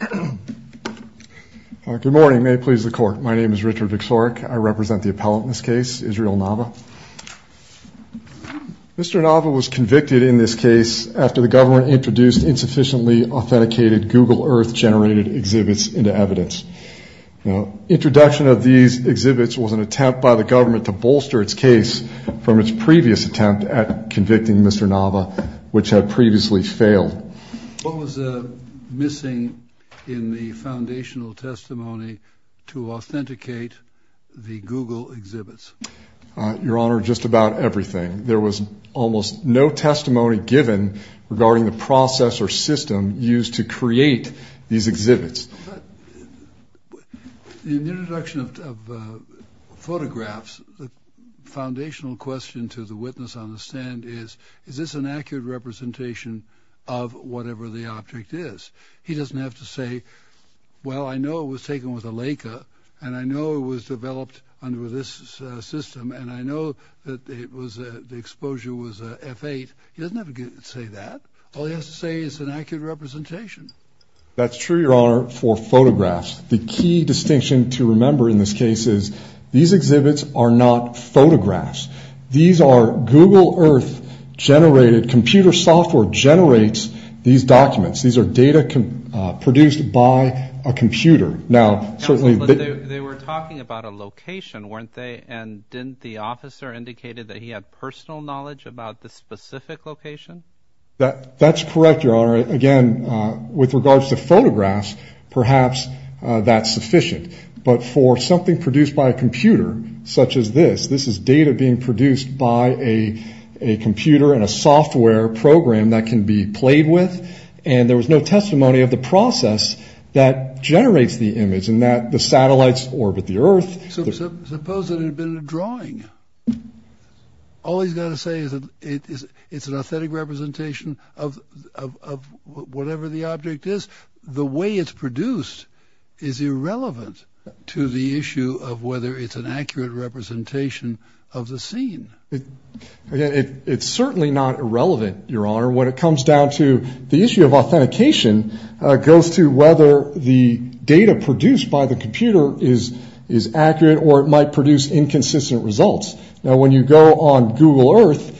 Good morning. May it please the court. My name is Richard Viksorek. I represent the appellant in this case, Israel Nava. Mr. Nava was convicted in this case after the government introduced insufficiently authenticated Google Earth-generated exhibits into evidence. Introduction of these exhibits was an attempt by the government to bolster its case from its previous attempt at convicting Mr. Nava, which had previously failed. What was missing in the foundational testimony to authenticate the Google exhibits? Your Honor, just about everything. There was almost no testimony given regarding the process or system used to create these exhibits. In the introduction of photographs, the foundational question to the witness on the stand is, is this an accurate representation of whatever the object is? He doesn't have to say, well, I know it was taken with a Leica, and I know it was developed under this system, and I know that the exposure was F8. He doesn't have to say that. All he has to say is it's an accurate representation. That's true, Your Honor, for photographs. The key distinction to remember in this case is these exhibits are not photographs. These are Google Earth-generated computer software generates these documents. These are data produced by a computer. Now, certainly they were talking about a location, weren't they? And didn't the officer indicated that he had personal knowledge about the specific location? That's correct, Your Honor. Again, with regards to photographs, perhaps that's sufficient. But for something produced by a computer such as this, this is data being produced by a computer and a software program that can be played with, and there was no testimony of the process that generates the image and that the satellites orbit the Earth. Suppose it had been a drawing. All he's got to say is that it's an authentic representation of whatever the object is. The way it's produced is irrelevant to the issue of whether it's an accurate representation of the scene. It's certainly not irrelevant, Your Honor. When it comes down to the issue of authentication, it goes to whether the data produced by the computer is accurate or it might produce inconsistent results. Now, when you go on Google Earth,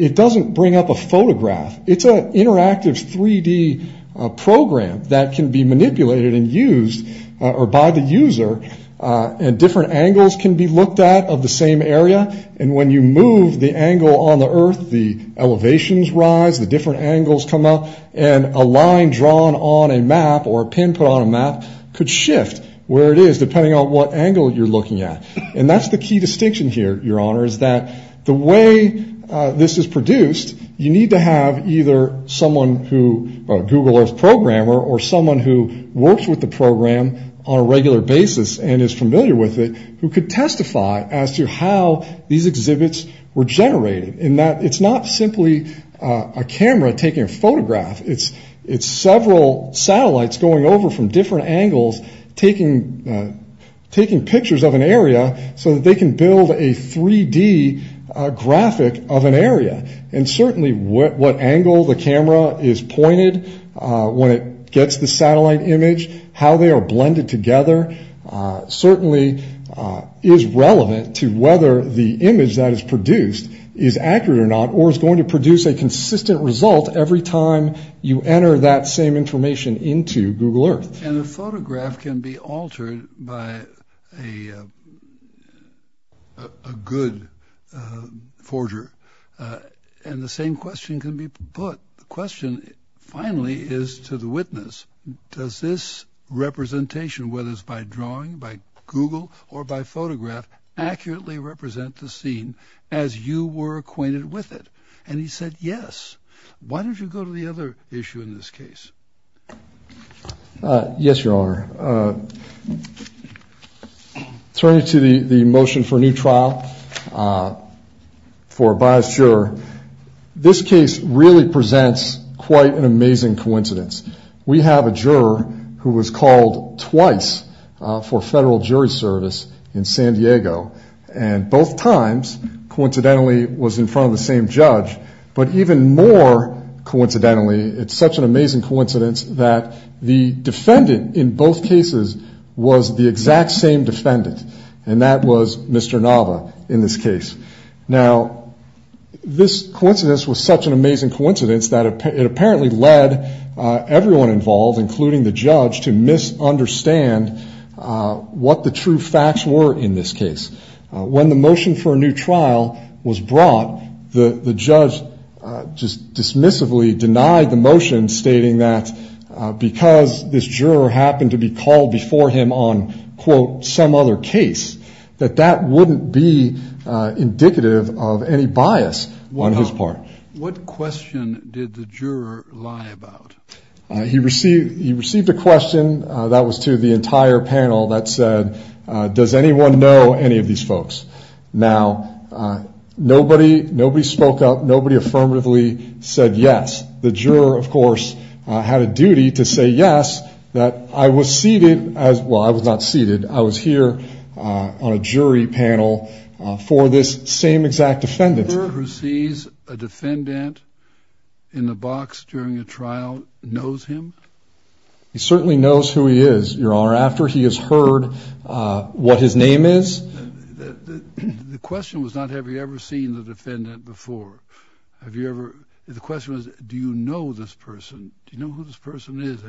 it doesn't bring up a photograph. It's an interactive 3-D program that can be manipulated and used by the user, and different angles can be looked at of the same area. And when you move the angle on the Earth, the elevations rise, the different angles come up, and a line drawn on a map or a pin put on a map could shift where it is depending on what angle you're looking at. And that's the key distinction here, Your Honor, is that the way this is produced, you need to have either someone who, a Google Earth programmer or someone who works with the program on a regular basis and is familiar with it who could testify as to how these exhibits were generated, in that it's not simply a camera taking a photograph. It's several satellites going over from different angles taking pictures of an area so that they can build a 3-D graphic of an area. And certainly what angle the camera is pointed when it gets the satellite image, how they are blended together, certainly is relevant to whether the image that is produced is accurate or not, or is going to produce a consistent result every time you enter that same information into Google Earth. And a photograph can be altered by a good forger. And the same question can be put. The question finally is to the witness, does this representation, whether it's by drawing, by Google, or by photograph, accurately represent the scene as you were acquainted with it? And he said, yes. Why don't you go to the other issue in this case? Yes, Your Honor. Turning to the motion for a new trial for a biased juror, this case really presents quite an amazing coincidence. We have a juror who was called twice for federal jury service in San Diego, and both times, coincidentally, was in front of the same judge. But even more coincidentally, it's such an amazing coincidence that the defendant in both cases was the exact same defendant, and that was Mr. Nava in this case. Now, this coincidence was such an amazing coincidence that it apparently led everyone involved, to misunderstand what the true facts were in this case. When the motion for a new trial was brought, the judge just dismissively denied the motion, stating that because this juror happened to be called before him on, quote, some other case, that that wouldn't be indicative of any bias on his part. What question did the juror lie about? He received a question that was to the entire panel that said, does anyone know any of these folks? Now, nobody spoke up. Nobody affirmatively said yes. The juror, of course, had a duty to say yes, that I was seated, well, I was not seated. I was here on a jury panel for this same exact defendant. The juror who sees a defendant in the box during a trial knows him? He certainly knows who he is, Your Honor, after he has heard what his name is. The question was not have you ever seen the defendant before. The question was do you know this person? Do you know who this person is?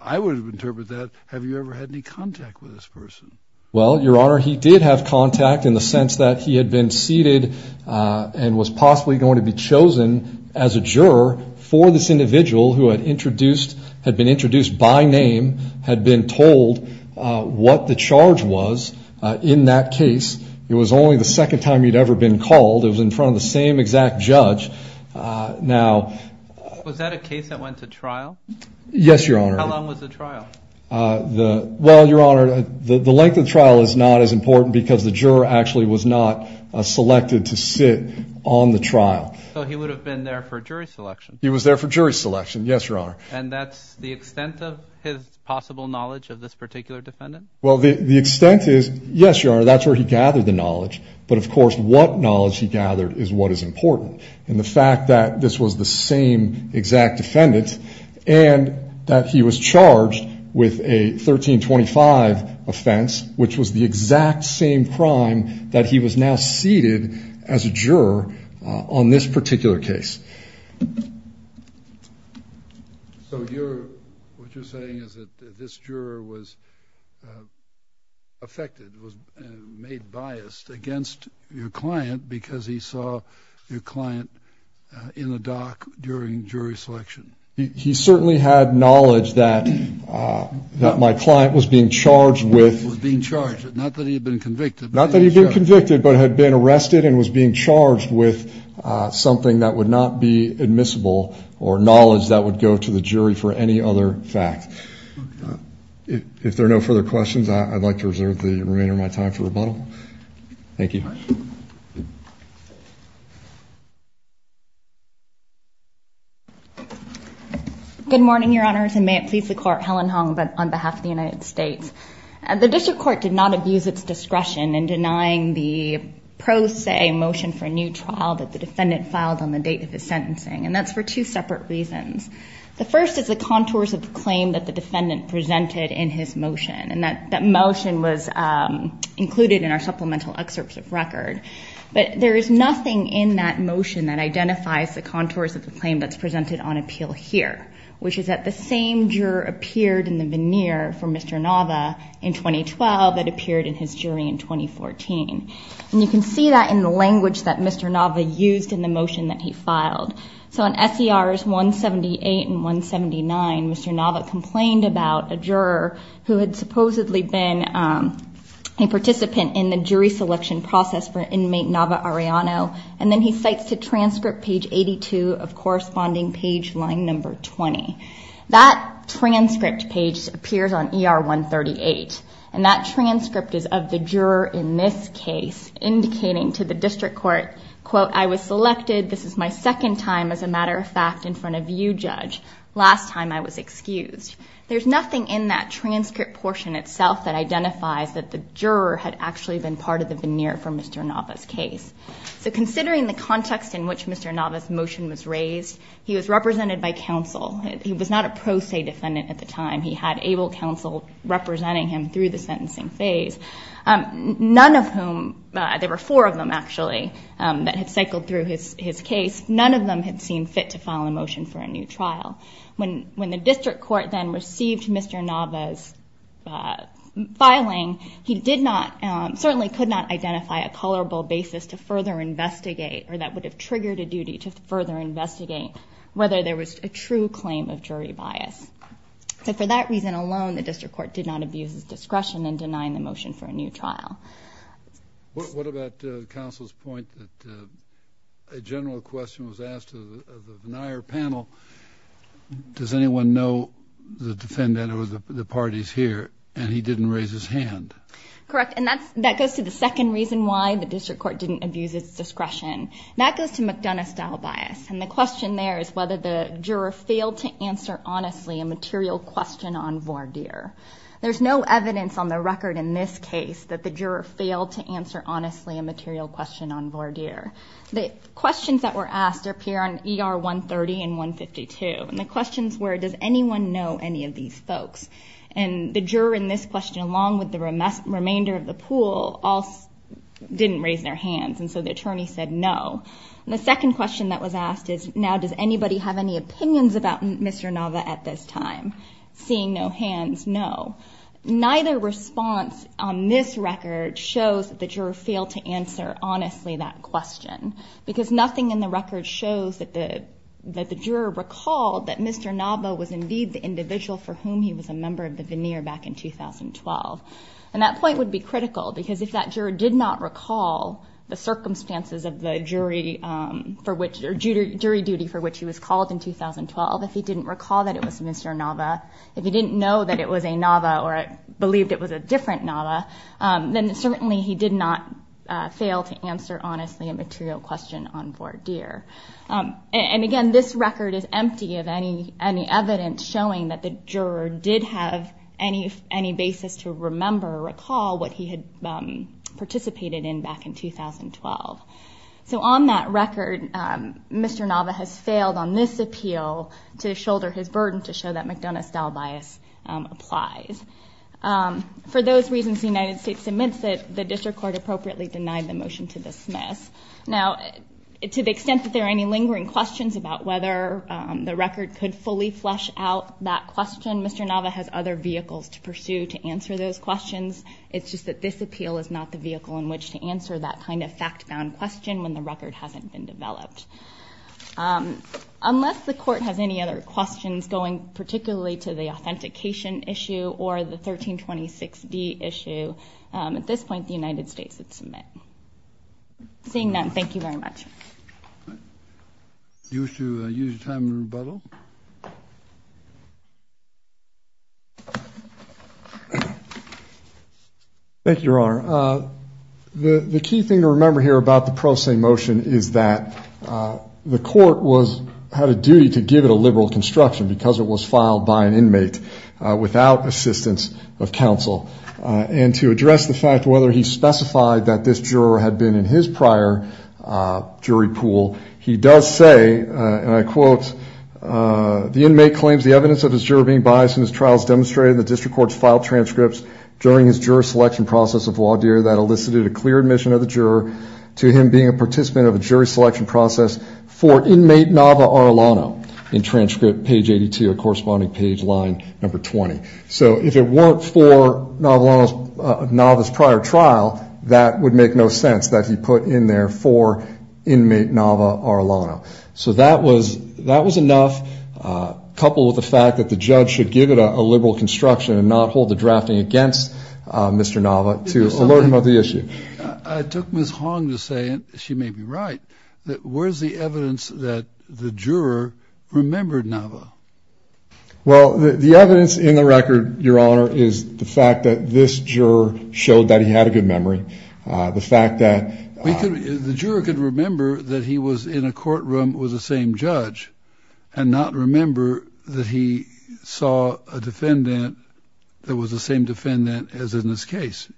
I would interpret that, have you ever had any contact with this person? Well, Your Honor, he did have contact in the sense that he had been seated and was possibly going to be chosen as a juror for this individual who had been introduced by name, had been told what the charge was in that case. It was only the second time he had ever been called. It was in front of the same exact judge. Now, was that a case that went to trial? Yes, Your Honor. How long was the trial? Well, Your Honor, the length of the trial is not as important because the juror actually was not selected to sit on the trial. So he would have been there for jury selection? He was there for jury selection, yes, Your Honor. And that's the extent of his possible knowledge of this particular defendant? Well, the extent is, yes, Your Honor, that's where he gathered the knowledge. But, of course, what knowledge he gathered is what is important. And the fact that this was the same exact defendant and that he was charged with a 1325 offense, which was the exact same crime that he was now seated as a juror on this particular case. So what you're saying is that this juror was affected, was made biased against your client because he saw your client in the dock during jury selection? He certainly had knowledge that my client was being charged with. Was being charged, not that he had been convicted. Not that he had been convicted, but had been arrested and was being charged with something that would not be admissible or knowledge that would go to the jury for any other fact. If there are no further questions, I'd like to reserve the remainder of my time for rebuttal. Thank you. Good morning, Your Honors, and may it please the Court, Helen Hong on behalf of the United States. The District Court did not abuse its discretion in denying the pro se motion for a new trial that the defendant filed on the date of his sentencing, and that's for two separate reasons. The first is the contours of the claim that the defendant presented in his motion, and that motion was included in our supplemental excerpts of record. But there is nothing in that motion that identifies the contours of the claim that's presented on appeal here, which is that the same juror appeared in the veneer for Mr. Nava in 2012 that appeared in his jury in 2014. And you can see that in the language that Mr. Nava used in the motion that he filed. So in SERs 178 and 179, Mr. Nava complained about a juror who had supposedly been a participant in the jury selection process for inmate Nava Arellano, and then he cites to transcript page 82 of corresponding page line number 20. That transcript page appears on ER 138, and that transcript is of the juror in this case, indicating to the district court, quote, I was selected. This is my second time, as a matter of fact, in front of you, judge. Last time I was excused. There's nothing in that transcript portion itself that identifies that the juror had actually been part of the veneer for Mr. Nava's case. So considering the context in which Mr. Nava's motion was raised, he was represented by counsel. He was not a pro se defendant at the time. He had able counsel representing him through the sentencing phase, none of whom, there were four of them, actually, that had cycled through his case. None of them had seen fit to file a motion for a new trial. When the district court then received Mr. Nava's filing, he did not, certainly could not identify a colorable basis to further investigate, or that would have triggered a duty to further investigate whether there was a true claim of jury bias. So for that reason alone, the district court did not abuse his discretion in denying the motion for a new trial. What about counsel's point that a general question was asked of the Vennire panel, does anyone know the defendant or the parties here, and he didn't raise his hand? Correct. And that goes to the second reason why the district court didn't abuse its discretion. That goes to McDonough style bias, and the question there is whether the juror failed to answer honestly a material question on Varnier. There's no evidence on the record in this case that the juror failed to answer honestly a material question on Varnier. The questions that were asked appear on ER 130 and 152, and the questions were, does anyone know any of these folks? And the juror in this question, along with the remainder of the pool, all didn't raise their hands, and so the attorney said no. And the second question that was asked is, now does anybody have any opinions about Mr. Nava at this time? Seeing no hands, no. Neither response on this record shows that the juror failed to answer honestly that question, because nothing in the record shows that the juror recalled that Mr. Nava was indeed the individual for whom he was a member of the Vennire back in 2012. And that point would be critical, because if that juror did not recall the circumstances of the jury, or jury duty for which he was called in 2012, if he didn't recall that it was Mr. Nava, if he didn't know that it was a Nava or believed it was a different Nava, then certainly he did not fail to answer honestly a material question on Varnier. And again, this record is empty of any evidence showing that the juror did have any basis to remember or recall what he had participated in back in 2012. So on that record, Mr. Nava has failed on this appeal to shoulder his burden to show that McDonough-style bias applies. For those reasons, the United States admits that the district court appropriately denied the motion to dismiss. Now, to the extent that there are any lingering questions about whether the record could fully flesh out that question, Mr. Nava has other vehicles to pursue to answer those questions. It's just that this appeal is not the vehicle in which to answer that kind of fact-bound question when the record hasn't been developed. Unless the Court has any other questions going particularly to the authentication issue or the 1326d issue, at this point the United States would submit. Seeing none, thank you very much. Thank you, Your Honor. The key thing to remember here about the pro se motion is that the Court had a duty to give it a liberal construction because it was filed by an inmate without assistance of counsel. And to address the fact whether he specified that this juror had been in his prior jury pool, he does say, and I quote, So if it weren't for Nava's prior trial, that would make no sense that he put in there for inmate Nava Arlano. So that was enough, coupled with the fact that the judge should give it a liberal construction and not hold the drafting against Mr. Nava to alert him of the issue. I took Ms. Hong to say, and she may be right, that where's the evidence that the juror remembered Nava? Well, the evidence in the record, Your Honor, is the fact that this juror showed that he had a good memory. The juror could remember that he was in a courtroom with the same judge and not remember that he saw a defendant that was the same defendant as in this case.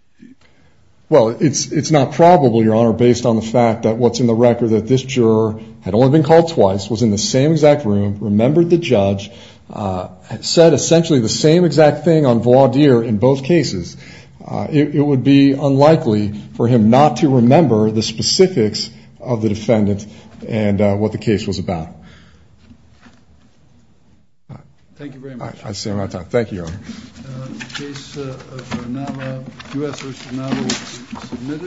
Well, it's not probable, Your Honor, based on the fact that what's in the record that this juror had only been called twice, was in the same exact room, remembered the judge, said essentially the same exact thing on voir dire in both cases. It would be unlikely for him not to remember the specifics of the defendant and what the case was about. Thank you very much.